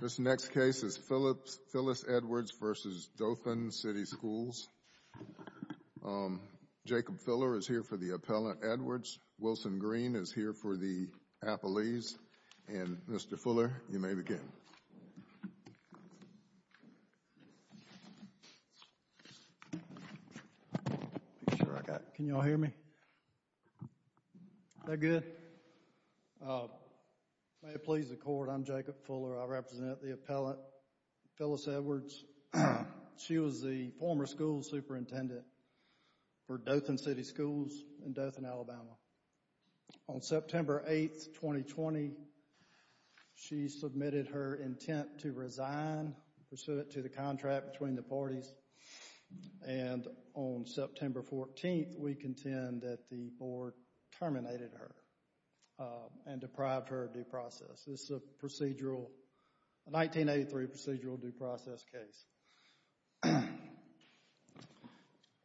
This next case is Phyllis Edwards v. Dothan City Schools. Jacob Fuller is here for the appellant, Edwards. Wilson Green is here for the appellees. And, Mr. Fuller, you may begin. Can you all hear me? Is that good? May it please the Court, I'm Jacob Fuller. I represent the appellant, Phyllis Edwards. She was the former school superintendent for Dothan City Schools in Dothan, Alabama. On September 8, 2020, she submitted her intent to resign pursuant to the contract between the parties, and on September 14, we contend that the board terminated her and deprived her of due process. This is a 1983 procedural due process case.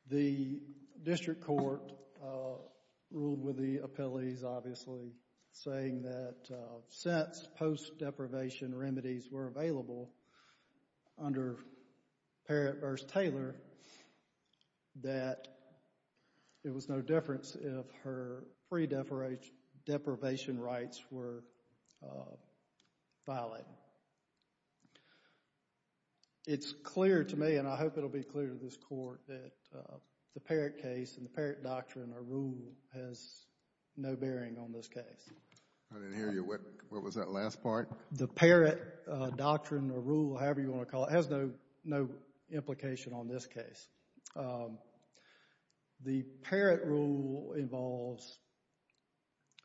The district court ruled with the appellees, obviously, saying that since post-deprivation remedies were available under Parrott v. Taylor, that it was no difference if her pre-deprivation rights were violated. It's clear to me, and I hope it will be clear to this Court, that the Parrott case and the Parrott doctrine or rule has no bearing on this case. I didn't hear you. What was that last part? The Parrott doctrine or rule, however you want to call it, has no implication on this case. The Parrott rule involves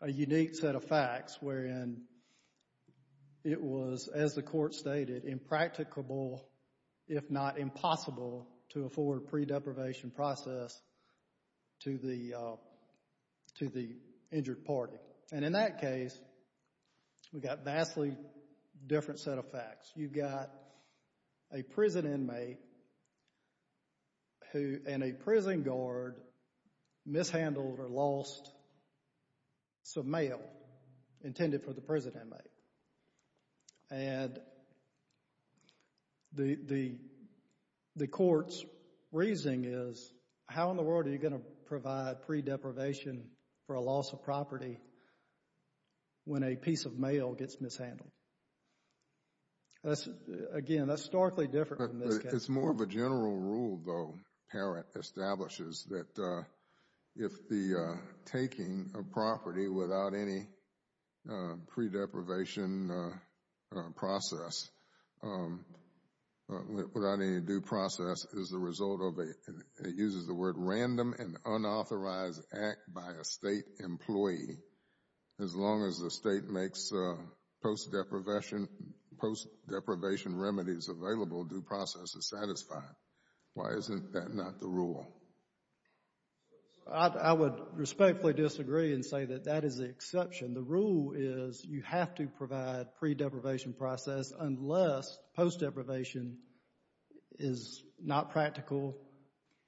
a unique set of facts wherein it was, as the Court stated, impracticable if not impossible to afford pre-deprivation process to the injured party. In that case, we've got a vastly different set of facts. You've got a prison inmate and a prison guard mishandled or lost some mail intended for the prison inmate. The Court's reasoning is, how in the world are you going to provide pre-deprivation for a loss of property when a piece of mail gets mishandled? Again, that's starkly different from this case. It's more of a general rule, though, Parrott establishes, that if the taking of property without any pre-deprivation process, without any due process, is the result of a, it uses the word, random and unauthorized act by a state employee, as long as the state makes post-deprivation remedies available, due process is satisfied. Why isn't that not the rule? I would respectfully disagree and say that that is the exception. The rule is, you have to provide pre-deprivation process unless post-deprivation is not practical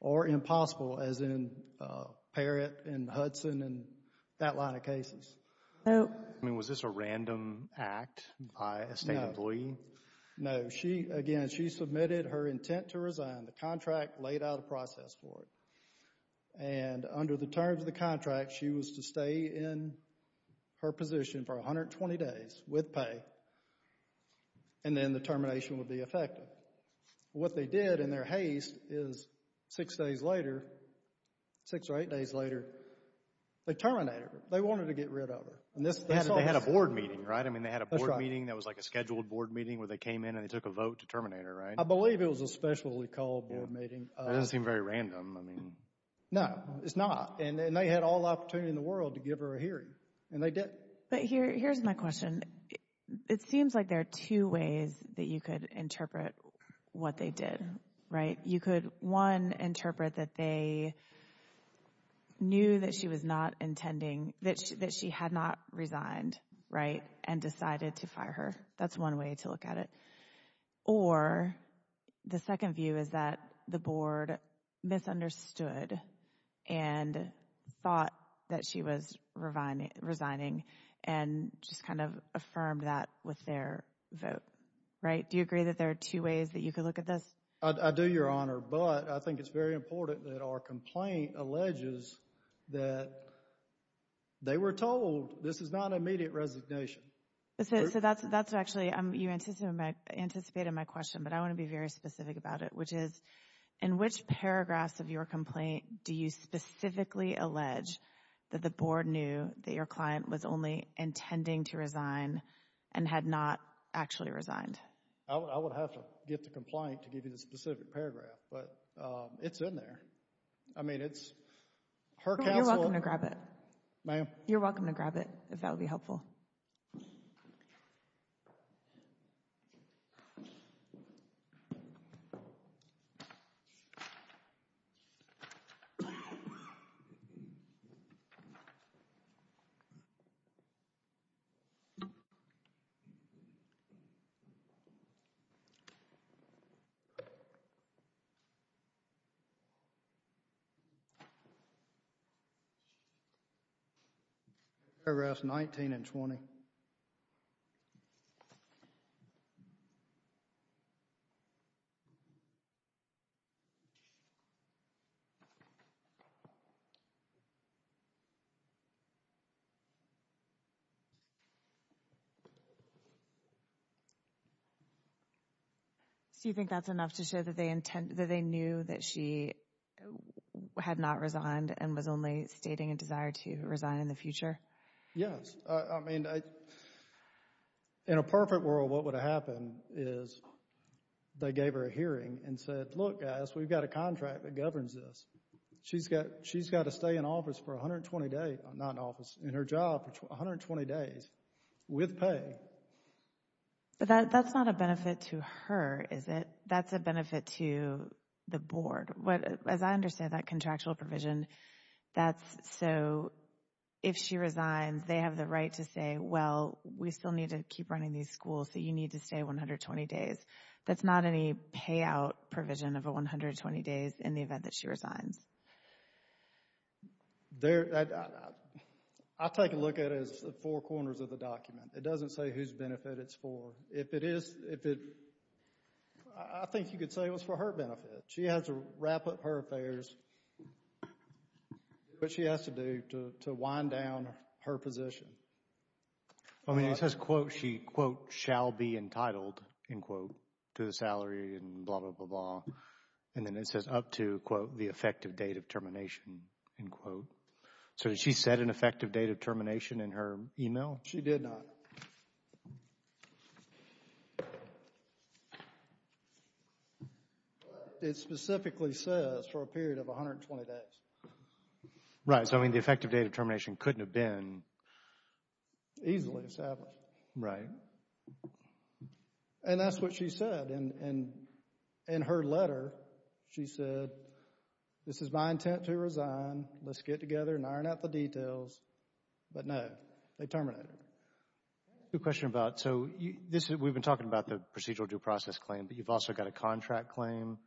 or impossible, as in Parrott and Hudson and that line of cases. Was this a random act by a state employee? No. Again, she submitted her intent to resign. The contract laid out a process for it. Under the terms of the contract, she was to stay in her position for 120 days with pay and then the termination would be effective. What they did in their haste is, six days later, six or eight days later, they terminated her. They wanted to get rid of her. They had a board meeting, right? I mean, they had a board meeting. That's right. That was like a scheduled board meeting where they came in and they took a vote to terminate her, right? I believe it was a specially called board meeting. It doesn't seem very random. I mean. No, it's not. And they had all the opportunity in the world to give her a hearing and they did. But here's my question. It seems like there are two ways that you could interpret what they did, right? You could, one, interpret that they knew that she was not intending, that she had not resigned, right? And decided to fire her. That's one way to look at it. Or the second view is that the board misunderstood and thought that she was resigning and just kind of affirmed that with their vote, right? Do you agree that there are two ways that you could look at this? I do, Your Honor. But I think it's very important that our complaint alleges that they were told this is not an immediate resignation. So that's actually, you anticipated my question, but I want to be very specific about it, which is in which paragraphs of your complaint do you specifically allege that the board knew that your client was only intending to resign and had not actually resigned? I would have to get the complaint to give you the specific paragraph, but it's in there. I mean, it's her counsel— You're welcome to grab it. Ma'am? Paragraphs 19 and 20. So you think that's enough to show that they knew that she had not resigned and was only stating a desire to resign in the future? Yes. I mean, in a perfect world, what would have happened is they gave her a hearing and said, look, guys, we've got a contract that governs this. She's got to stay in office for 120 days—not in office, in her job for 120 days with pay. But that's not a benefit to her, is it? That's a benefit to the board. As I understand that contractual provision, that's so if she resigns, they have the right to say, well, we still need to keep running these schools, so you need to stay 120 days. That's not any payout provision of a 120 days in the event that she resigns. I take a look at it as the four corners of the document. It doesn't say whose benefit it's for. If it is—I think you could say it was for her benefit. She has to wrap up her affairs. What she has to do to wind down her position. I mean, it says, quote, she, quote, shall be entitled, end quote, to the salary and blah, blah, blah, blah. And then it says up to, quote, the effective date of termination, end quote. So did she set an effective date of termination in her email? She did not. But it specifically says for a period of 120 days. Right. So, I mean, the effective date of termination couldn't have been easily established. Right. And that's what she said in her letter. She said, this is my intent to resign. Let's get together and iron out the details. But no, they terminated her. I have a question about, so we've been talking about the procedural due process claim, but you've also got a contract claim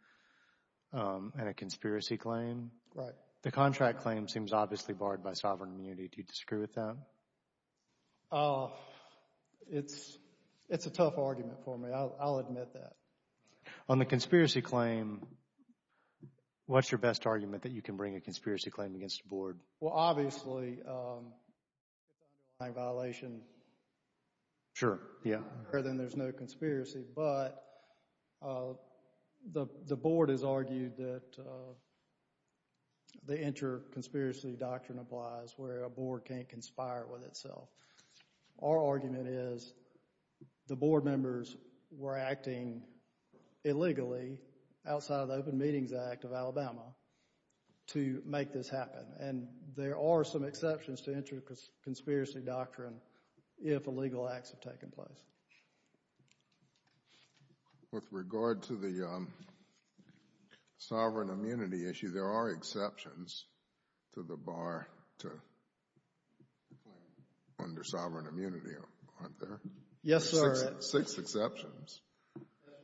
and a conspiracy claim. Right. The contract claim seems obviously barred by sovereign immunity. Do you disagree with that? Oh, it's a tough argument for me. I'll admit that. On the conspiracy claim, what's your best argument that you can bring a conspiracy claim against the board? Well, obviously, if it's an underlying violation, then there's no conspiracy. But the board has argued that the inter-conspiracy doctrine applies where a board can't conspire with itself. Our argument is the board members were acting illegally outside of the Open Meetings Act of Alabama to make this happen. And there are some exceptions to inter-conspiracy doctrine if illegal acts have taken place. With regard to the sovereign immunity issue, there are exceptions to the bar to claim under sovereign immunity, aren't there? Yes, sir. Six exceptions. That's right.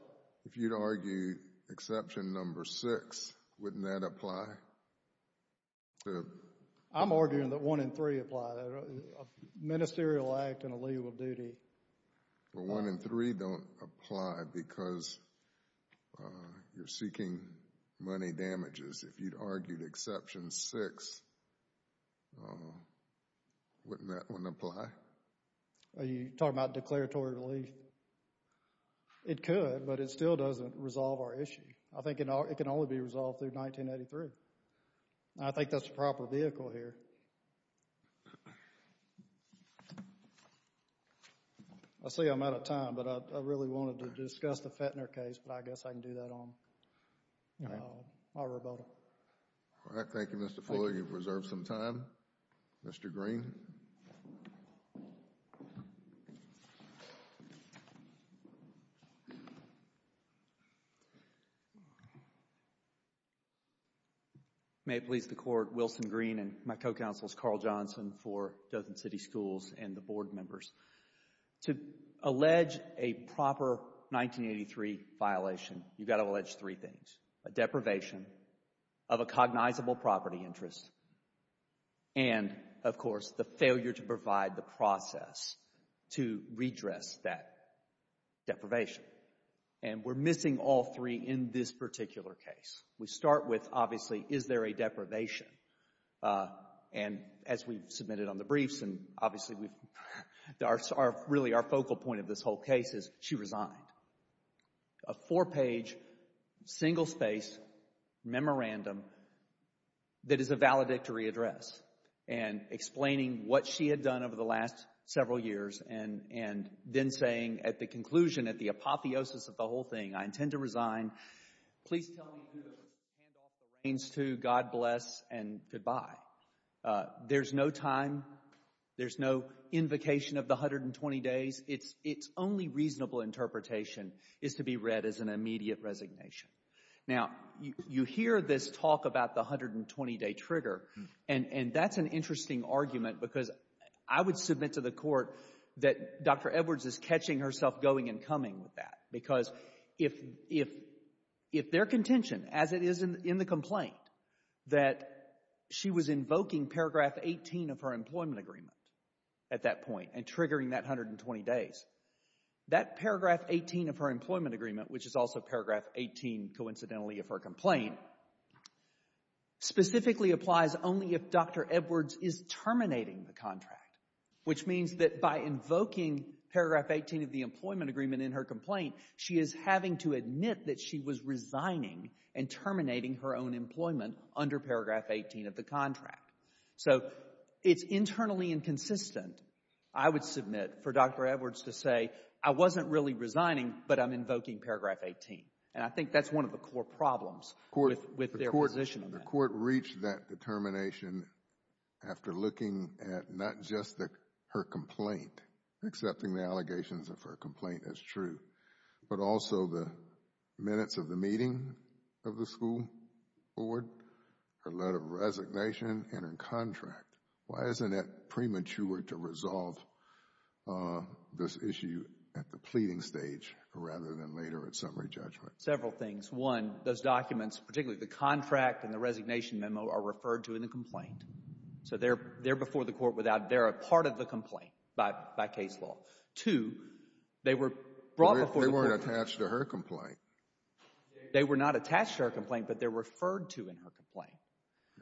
If you'd argue exception number six, wouldn't that apply? I'm arguing that one in three apply, a ministerial act and a legal duty. Well, one in three don't apply because you're seeking money damages. If you'd argued exception six, wouldn't that one apply? Are you talking about declaratory relief? It could, but it still doesn't resolve our issue. I think it can only be resolved through 1983. I think that's the proper vehicle here. I see I'm out of time, but I really wanted to discuss the Fetner case, but I guess I can do that on my rebuttal. All right. Thank you, Mr. Fuller. You've reserved some time. Mr. Green. May it please the Court, Wilson Green and my co-counsels Carl Johnson for Dothan City Schools and the board members. To allege a proper 1983 violation, you've got to allege three things, a deprivation of a cognizable property interest and, of course, the failure to provide the process to redress that deprivation. And we're missing all three in this particular case. We start with, obviously, is there a deprivation? And as we've submitted on the briefs, and obviously we've, really our focal point of this whole case is she resigned. A four-page, single-space memorandum that is a valedictory address and explaining what she had done over the last several years and then saying at the conclusion, at the apotheosis of the whole thing, I intend to resign. Please tell me who to hand off the reins to. God bless and goodbye. There's no time. There's no invocation of the 120 days. Its only reasonable interpretation is to be read as an immediate resignation. Now, you hear this talk about the 120-day trigger, and that's an interesting argument because I would submit to the court that Dr. Edwards is catching herself going and coming with that because if their contention, as it is in the complaint, that she was invoking paragraph 18 of her employment agreement at that point and triggering that 120 days, that paragraph 18 of her employment agreement, which is also paragraph 18, coincidentally, of her complaint, specifically applies only if Dr. Edwards is terminating the contract, which means that by invoking paragraph 18 of the employment agreement in her complaint, she is having to admit that she was resigning and terminating her own employment under paragraph 18 of the contract. So it's internally inconsistent, I would submit, for Dr. Edwards to say, I wasn't really resigning, but I'm invoking paragraph 18, and I think that's one of the core problems with their position on that. The court reached that determination after looking at not just her complaint, accepting the allegations of her complaint as true, but also the minutes of the meeting of the school board, her letter of resignation, and her contract. Why isn't it premature to resolve this issue at the pleading stage rather than later at summary judgment? Several things. One, those documents, particularly the contract and the resignation memo, are referred to in the complaint. So they're before the court without, they're a part of the complaint by case law. Two, they were brought before the court. They weren't attached to her complaint. They were not attached to her complaint, but they're referred to in her complaint.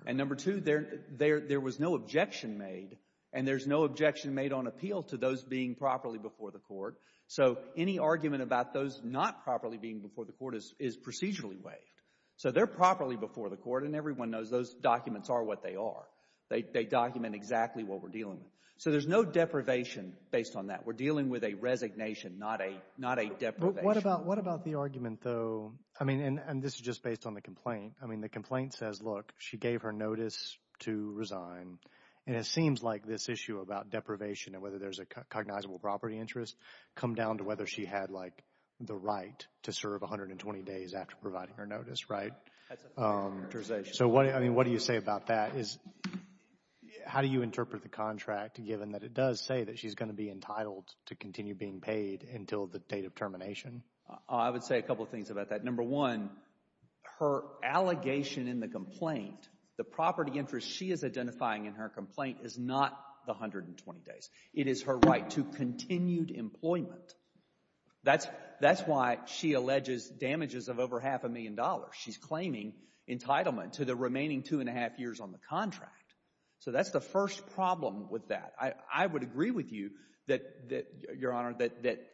And number two, there was no objection made, and there's no objection made on appeal to those being properly before the court. So any argument about those not properly being before the court is procedurally waived. So they're properly before the court, and everyone knows those documents are what they are. They document exactly what we're dealing with. So there's no deprivation based on that. We're dealing with a resignation, not a deprivation. What about, what about the argument, though, I mean, and this is just based on the complaint. I mean, the complaint says, look, she gave her notice to resign, and it seems like this issue about deprivation and whether there's a cognizable property interest come down to whether she had, like, the right to serve 120 days after providing her notice, right? So what, I mean, what do you say about that? How do you interpret the contract given that it does say that she's going to be entitled to continue being paid until the date of termination? I would say a couple of things about that. Number one, her allegation in the complaint, the property interest she is identifying in her complaint is not the 120 days. It is her right to continued employment. That's why she alleges damages of over half a million dollars. She's claiming entitlement to the remaining two and a half years on the contract. So that's the first problem with that. I would agree with you that, Your Honor, that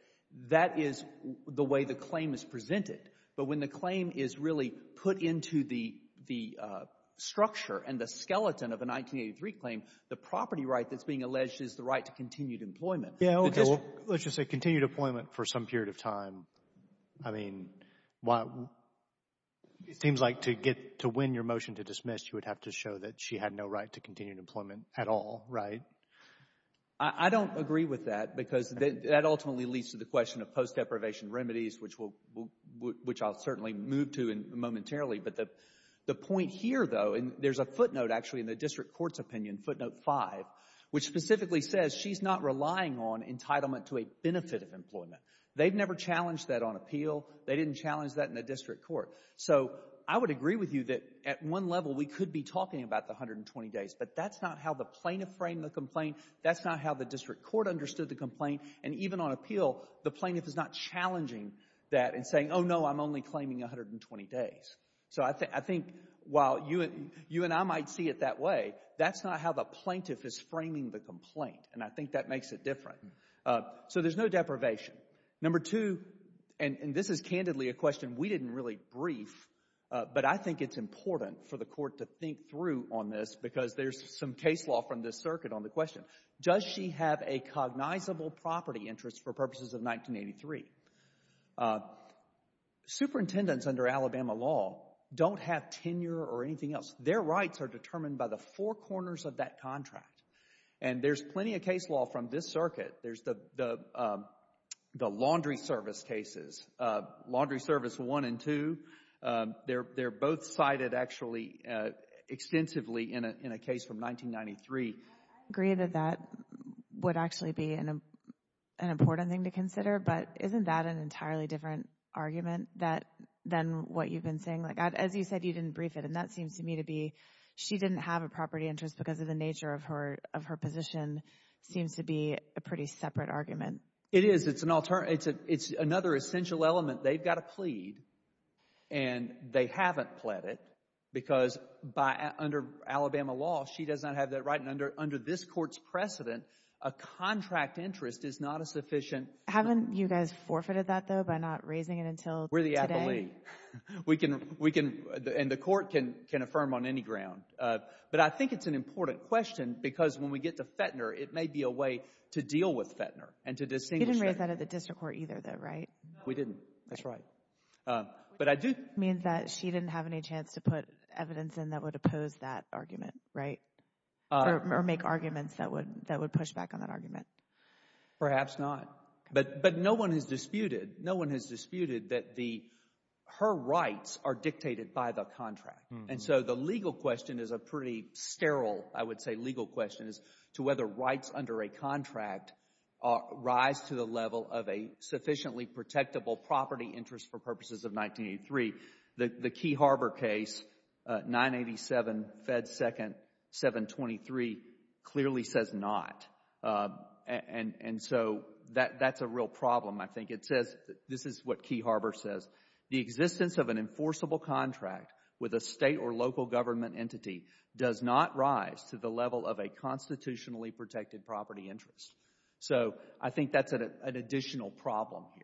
that is the way the claim is presented. But when the claim is really put into the structure and the skeleton of a 1983 claim, the property right that's being alleged is the right to continued employment. Yeah, okay. Let's just say continued employment for some period of time. I mean, it seems like to get, to win your motion to dismiss, you would have to show that she had no right to continued employment at all, right? I don't agree with that because that ultimately leads to the question of post deprivation remedies, which I'll certainly move to momentarily. But the point here, though, and there's a footnote actually in the district court's opinion, footnote five, which specifically says she's not relying on entitlement to a benefit of employment. They've never challenged that on appeal. They didn't challenge that in the district court. So I would agree with you that at one level, we could be talking about the 120 days, but that's not how the plaintiff framed the complaint. That's not how the district court understood the complaint. And even on appeal, the plaintiff is not challenging that and saying, oh, no, I'm only claiming 120 days. So I think while you and I might see it that way, that's not how the plaintiff is framing the complaint. And I think that makes it different. So there's no deprivation. Number two, and this is candidly a question we didn't really brief, but I think it's important for the court to think through on this because there's some case law from this circuit on the question. Does she have a cognizable property interest for purposes of 1983? Superintendents under Alabama law don't have tenure or anything else. Their rights are determined by the four corners of that contract. And there's plenty of case law from this circuit. There's the laundry service cases, laundry service one and two. They're both cited actually extensively in a case from 1993. I agree that that would actually be an important thing to consider, but isn't that an entirely different argument than what you've been saying? Like, as you said, you didn't brief it. And that seems to me to be she didn't have a property interest because of the nature of her position seems to be a pretty separate argument. It is. It's an alternative. It's another essential element. They've got to plead and they haven't pled it because under Alabama law, she does not have that right. And under this court's precedent, a contract interest is not a sufficient- Haven't you guys forfeited that though by not raising it until today? We're the athlete. And the court can affirm on any ground. But I think it's an important question because when we get to Fetner, it may be a way to deal with Fetner and to distinguish- You didn't raise that at the district court either though, right? We didn't. That's right. Which means that she didn't have any chance to put evidence in that would oppose that argument, right? Or make arguments that would push back on that argument. Perhaps not. But no one has disputed, no one has disputed that her rights are dictated by the contract. And so the legal question is a pretty sterile, I would say, legal question is to whether rights under a contract rise to the level of a sufficiently protectable property interest for purposes of 1983. The Key Harbor case, 987 Fed 2nd, 723, clearly says not. And so that's a real problem, I think. It says, this is what Key Harbor says, the existence of an enforceable contract with a state or local government entity does not rise to the level of a constitutionally protected property interest. So I think that's an additional problem here.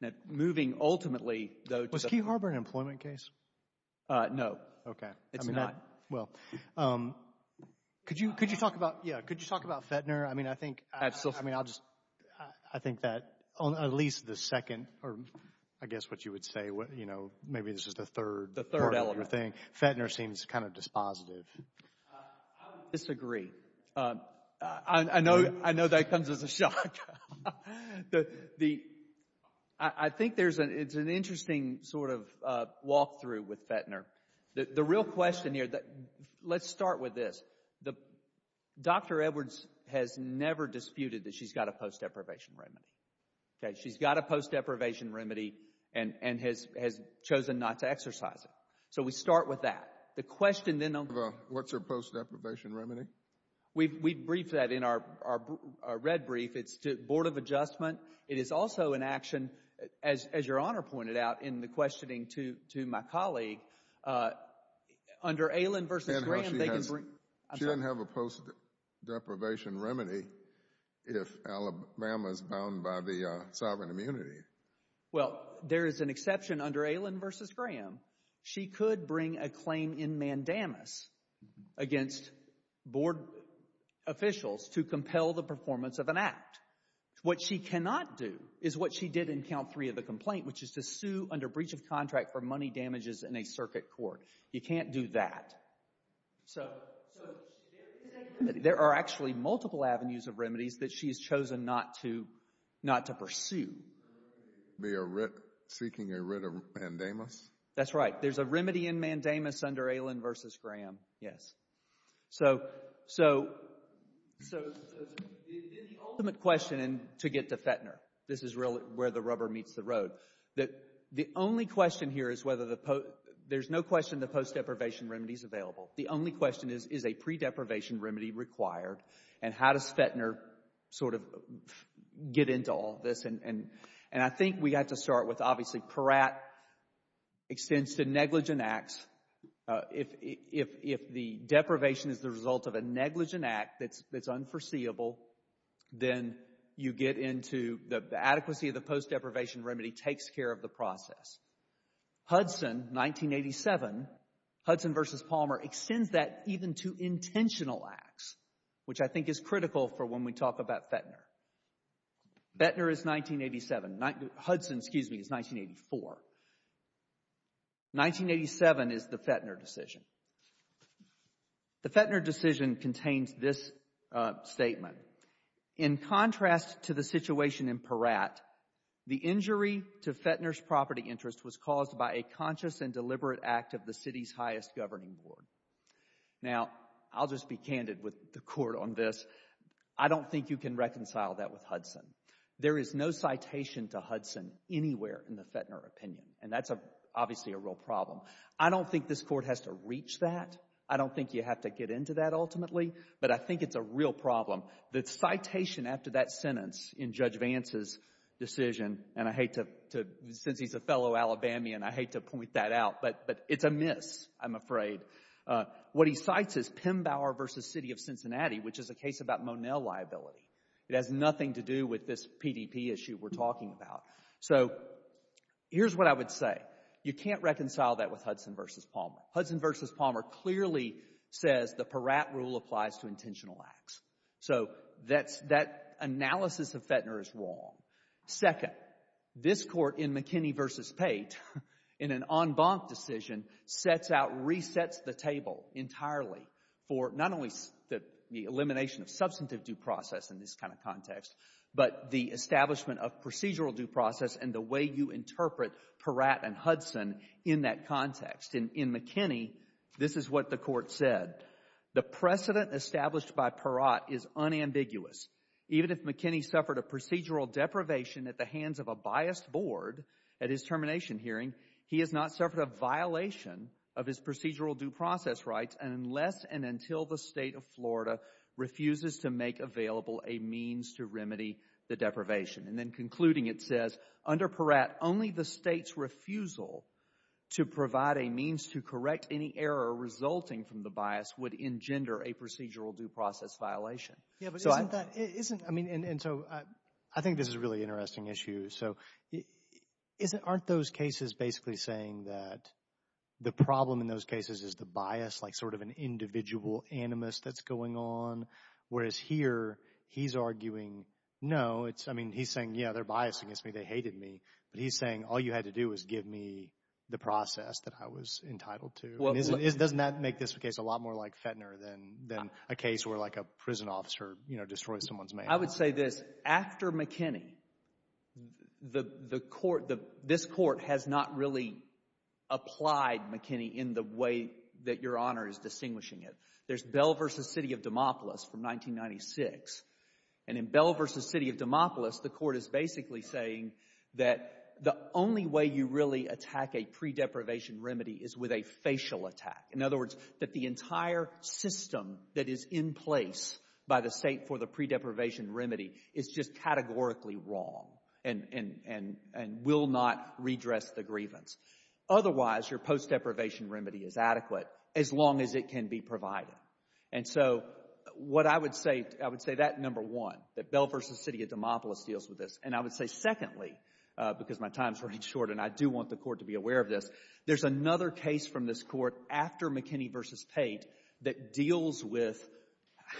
Now, moving ultimately, though- Was Key Harbor an employment case? No. Okay. It's not. Well, could you talk about, yeah, could you talk about Fetner? I mean, I think- Absolutely. I mean, I'll just, I think that at least the second, or I guess what you would say, you know, maybe this is the third- Yeah. Fetner seems kind of dispositive. I would disagree. I know, I know that comes as a shock. I think there's an, it's an interesting sort of walkthrough with Fetner. The real question here, let's start with this, Dr. Edwards has never disputed that she's got a post-deprivation remedy, okay? She's got a post-deprivation remedy and has chosen not to exercise it. So we start with that. The question then on- What's her post-deprivation remedy? We briefed that in our red brief. It's to Board of Adjustment. It is also an action, as your Honor pointed out in the questioning to my colleague, under Allen v. Graham- She doesn't have a post-deprivation remedy if Alabama is bound by the sovereign immunity. Well, there is an exception under Allen v. Graham. She could bring a claim in mandamus against board officials to compel the performance of an act. What she cannot do is what she did in count three of the complaint, which is to sue under breach of contract for money damages in a circuit court. You can't do that. So there are actually multiple avenues of remedies that she has chosen not to pursue. They are seeking a writ of mandamus? That's right. There's a remedy in mandamus under Allen v. Graham, yes. So the ultimate question, and to get to Fetner, this is really where the rubber meets the road, that the only question here is whether the- There's no question the post-deprivation remedy is available. The only question is, is a pre-deprivation remedy required and how does Fetner sort of get into all of this? And I think we have to start with, obviously, Peratt extends to negligent acts. If the deprivation is the result of a negligent act that's unforeseeable, then you get into the adequacy of the post-deprivation remedy takes care of the process. Hudson, 1987, Hudson v. Palmer extends that even to intentional acts, which I think is Fetner is 1987, Hudson, excuse me, is 1984, 1987 is the Fetner decision. The Fetner decision contains this statement, in contrast to the situation in Peratt, the injury to Fetner's property interest was caused by a conscious and deliberate act of the city's highest governing board. Now, I'll just be candid with the court on this. I don't think you can reconcile that with Hudson. There is no citation to Hudson anywhere in the Fetner opinion, and that's obviously a real problem. I don't think this court has to reach that. I don't think you have to get into that ultimately, but I think it's a real problem. The citation after that sentence in Judge Vance's decision, and I hate to, since he's a fellow Alabamian, I hate to point that out, but it's a miss, I'm afraid. What he cites is Pembauer v. City of Cincinnati, which is a case about Monell liability. It has nothing to do with this PDP issue we're talking about. So here's what I would say. You can't reconcile that with Hudson v. Palmer. Hudson v. Palmer clearly says the Peratt rule applies to intentional acts. So that analysis of Fetner is wrong. Second, this court in McKinney v. Pate, in an en banc decision, sets out, resets the table entirely for not only the elimination of substantive due process in this kind of context, but the establishment of procedural due process and the way you interpret Peratt and Hudson in that context. In McKinney, this is what the court said. The precedent established by Peratt is unambiguous. Even if McKinney suffered a procedural deprivation at the hands of a biased board at his termination hearing, he has not suffered a violation of his procedural due process rights unless and until the state of Florida refuses to make available a means to remedy the deprivation. And then concluding, it says, under Peratt, only the state's refusal to provide a means to correct any error resulting from the bias would engender a procedural due process violation. Yeah, but isn't that, isn't, I mean, and so I think this is a really interesting issue. So isn't, aren't those cases basically saying that the problem in those cases is the bias, like sort of an individual animus that's going on, whereas here he's arguing, no, it's, I mean, he's saying, yeah, they're biased against me, they hated me, but he's saying, all you had to do was give me the process that I was entitled to. And isn't, doesn't that make this case a lot more like Fetner than, than a case where like a prison officer, you know, destroys someone's man? I would say this, after McKinney, the, the court, the, this court has not really applied McKinney in the way that Your Honor is distinguishing it. There's Bell v. City of Demopolis from 1996, and in Bell v. City of Demopolis, the court is basically saying that the only way you really attack a pre-deprivation remedy is with a facial attack. In other words, that the entire system that is in place by the state for the pre-deprivation remedy is just categorically wrong and, and, and, and will not redress the grievance. Otherwise, your post-deprivation remedy is adequate as long as it can be provided. And so what I would say, I would say that, number one, that Bell v. City of Demopolis deals with this, and I would say, secondly, because my time's running short and I do want the court to be aware of this, there's another case from this court after McKinney v. Pate that deals with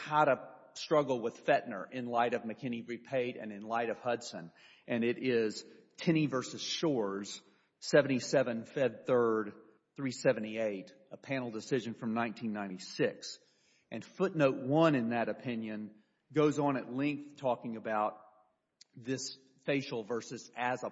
how to struggle with Fetner in light of McKinney v. Pate and in light of Hudson, and it is Kenney v. Shores, 77 Fed 3rd, 378, a panel decision from 1996. And footnote one in that opinion goes on at length talking about this facial versus as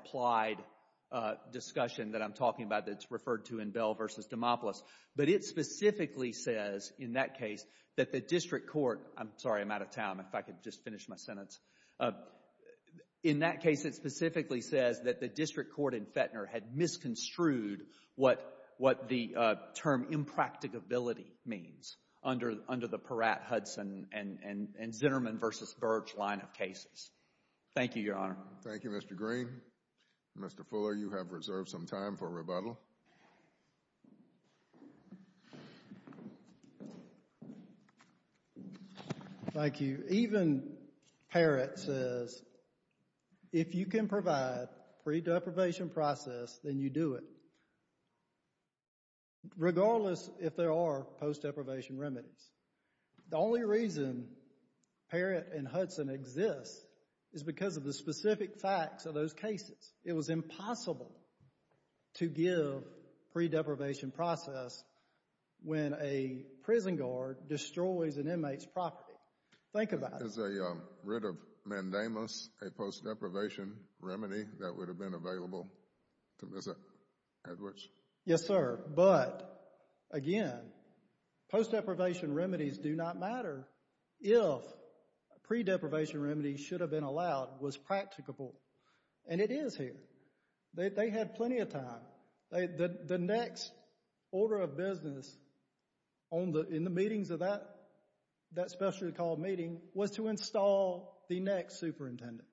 discussion that I'm talking about that's referred to in Bell v. Demopolis, but it specifically says in that case that the district court, I'm sorry, I'm out of time, if I could just finish my sentence, in that case it specifically says that the district court in Fetner had misconstrued what, what the term impracticability means under, under the Peratt, Hudson, and, and, and Zinnerman v. Birch line of cases. Thank you, Your Honor. Thank you, Mr. Green. Mr. Fuller, you have reserved some time for rebuttal. Thank you. Even Peratt says if you can provide pre-deprivation process, then you do it, regardless if there are post-deprivation remedies. The only reason Peratt and Hudson exist is because of the specific facts of those cases. It was impossible to give pre-deprivation process when a prison guard destroys an inmate's property. Think about it. Is a writ of mandamus a post-deprivation remedy that would have been available to visit Edwards? Yes, sir. But, again, post-deprivation remedies do not matter if pre-deprivation remedies should have been allowed, was practicable, and it is here. They had plenty of time. The next order of business on the, in the meetings of that, that specially called meeting was to install the next superintendent.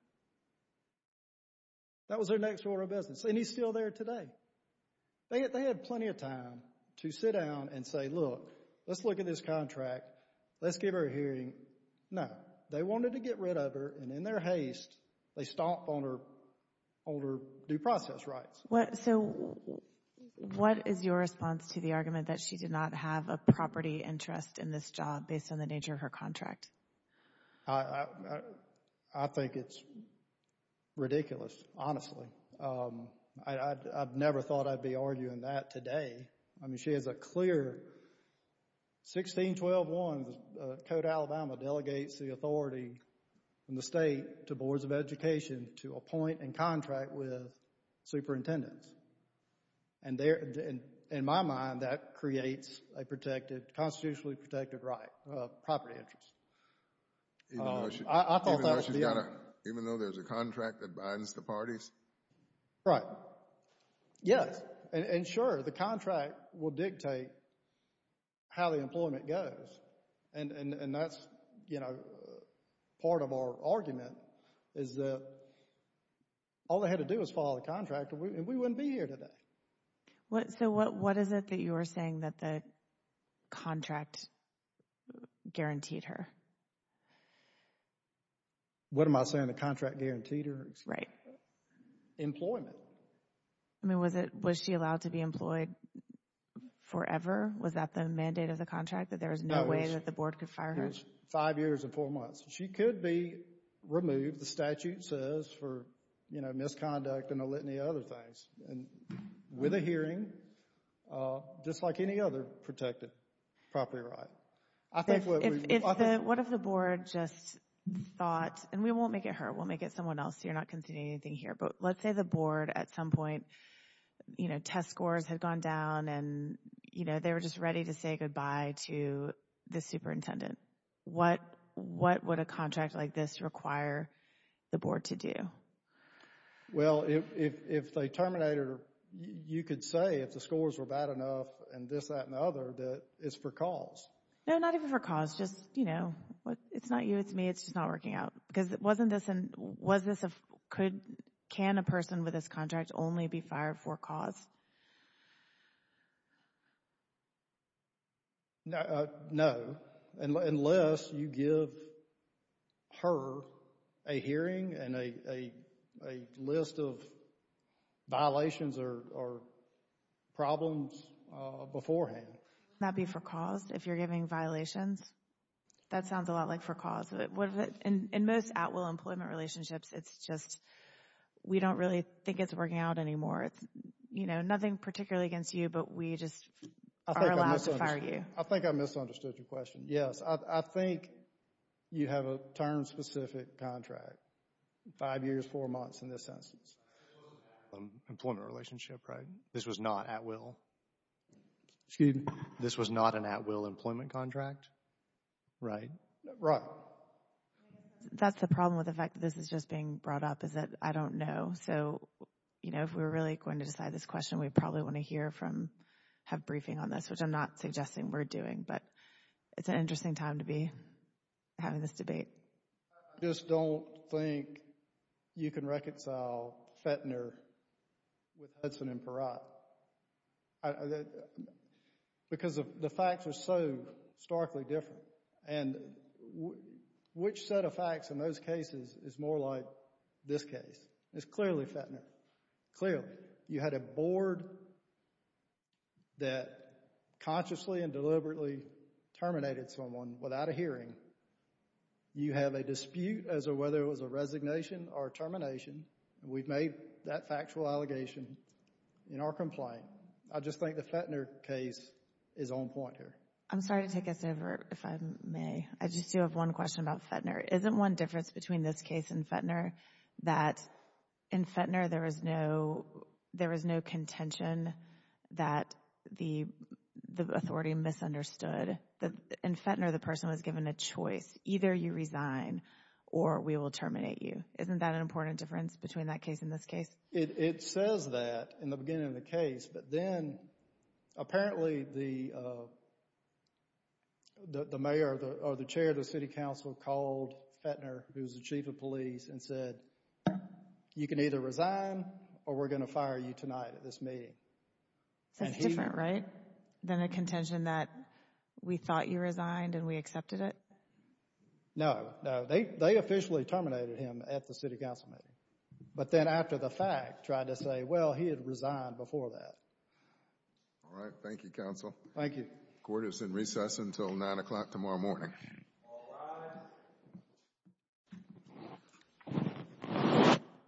That was their next order of business, and he's still there today. They had plenty of time to sit down and say, look, let's look at this contract. Let's give her a hearing. No. They wanted to get rid of her, and in their haste, they stomped on her due process rights. So, what is your response to the argument that she did not have a property interest in this job based on the nature of her contract? I think it's ridiculous, honestly. I've never thought I'd be arguing that today. I mean, she has a clear, 16-12-1, Code Alabama delegates the authority from the state to boards of education to appoint and contract with superintendents, and there, in my mind, that creates a protected, constitutionally protected right of property interest. Even though she's got a, even though there's a contract that binds the parties? Right. Yes. And sure, the contract will dictate how the employment goes, and that's, you know, part of our argument is that all they had to do was follow the contract, and we wouldn't be here today. So, what is it that you are saying that the contract guaranteed her? What am I saying? The contract guaranteed her? Right. Employment. I mean, was it, was she allowed to be employed forever? Was that the mandate of the contract, that there was no way that the board could fire her? No, it was five years and four months. She could be removed, the statute says, for, you know, misconduct and a litany of other things. And with a hearing, just like any other protected property right, I think what we... What if the board just thought, and we won't make it her, we'll make it someone else, you're not considering anything here, but let's say the board, at some point, you know, test scores had gone down and, you know, they were just ready to say goodbye to the superintendent. What would a contract like this require the board to do? Well, if they terminate her, you could say if the scores were bad enough and this, that, and the other, that it's for cause. No, not even for cause, just, you know, it's not you, it's me, it's just not working out. Because wasn't this, was this a, could, can a person with this contract only be fired for cause? No, unless you give her a hearing and a list of violations or problems beforehand. Would that be for cause, if you're giving violations? That sounds a lot like for cause. In most at-will employment relationships, it's just, we don't really think it's working out anymore. It's, you know, nothing particularly against you, but we just are allowed to fire you. I think I misunderstood your question. Yes, I think you have a term-specific contract, five years, four months in this instance. Employment relationship, right? This was not at-will? Excuse me? This was not an at-will employment contract? Right. Right. That's the problem with the fact that this is just being brought up, is that I don't know. So, you know, if we're really going to decide this question, we probably want to hear from, have briefing on this, which I'm not suggesting we're doing, but it's an interesting time to be having this debate. I just don't think you can reconcile Fetner with Hudson and Perot. Because the facts are so starkly different. And which set of facts in those cases is more like this case? It's clearly Fetner. Clearly. You had a board that consciously and deliberately terminated someone without a hearing. You have a dispute as to whether it was a resignation or termination. We've made that factual allegation in our complaint. I just think the Fetner case is on point here. I'm sorry to take this over, if I may. I just do have one question about Fetner. Isn't one difference between this case and Fetner that in Fetner there was no contention that the authority misunderstood? In Fetner, the person was given a choice, either you resign or we will terminate you. Isn't that an important difference between that case and this case? It says that in the beginning of the case, but then apparently the mayor or the chair of the city council called Fetner, who's the chief of police, and said, you can either resign or we're going to fire you tonight at this meeting. That's different, right? Than a contention that we thought you resigned and we accepted it? No. No. They officially terminated him at the city council meeting. But then after the fact, tried to say, well, he had resigned before that. All right. Thank you, counsel. Thank you. Court is in recess until 9 o'clock tomorrow morning.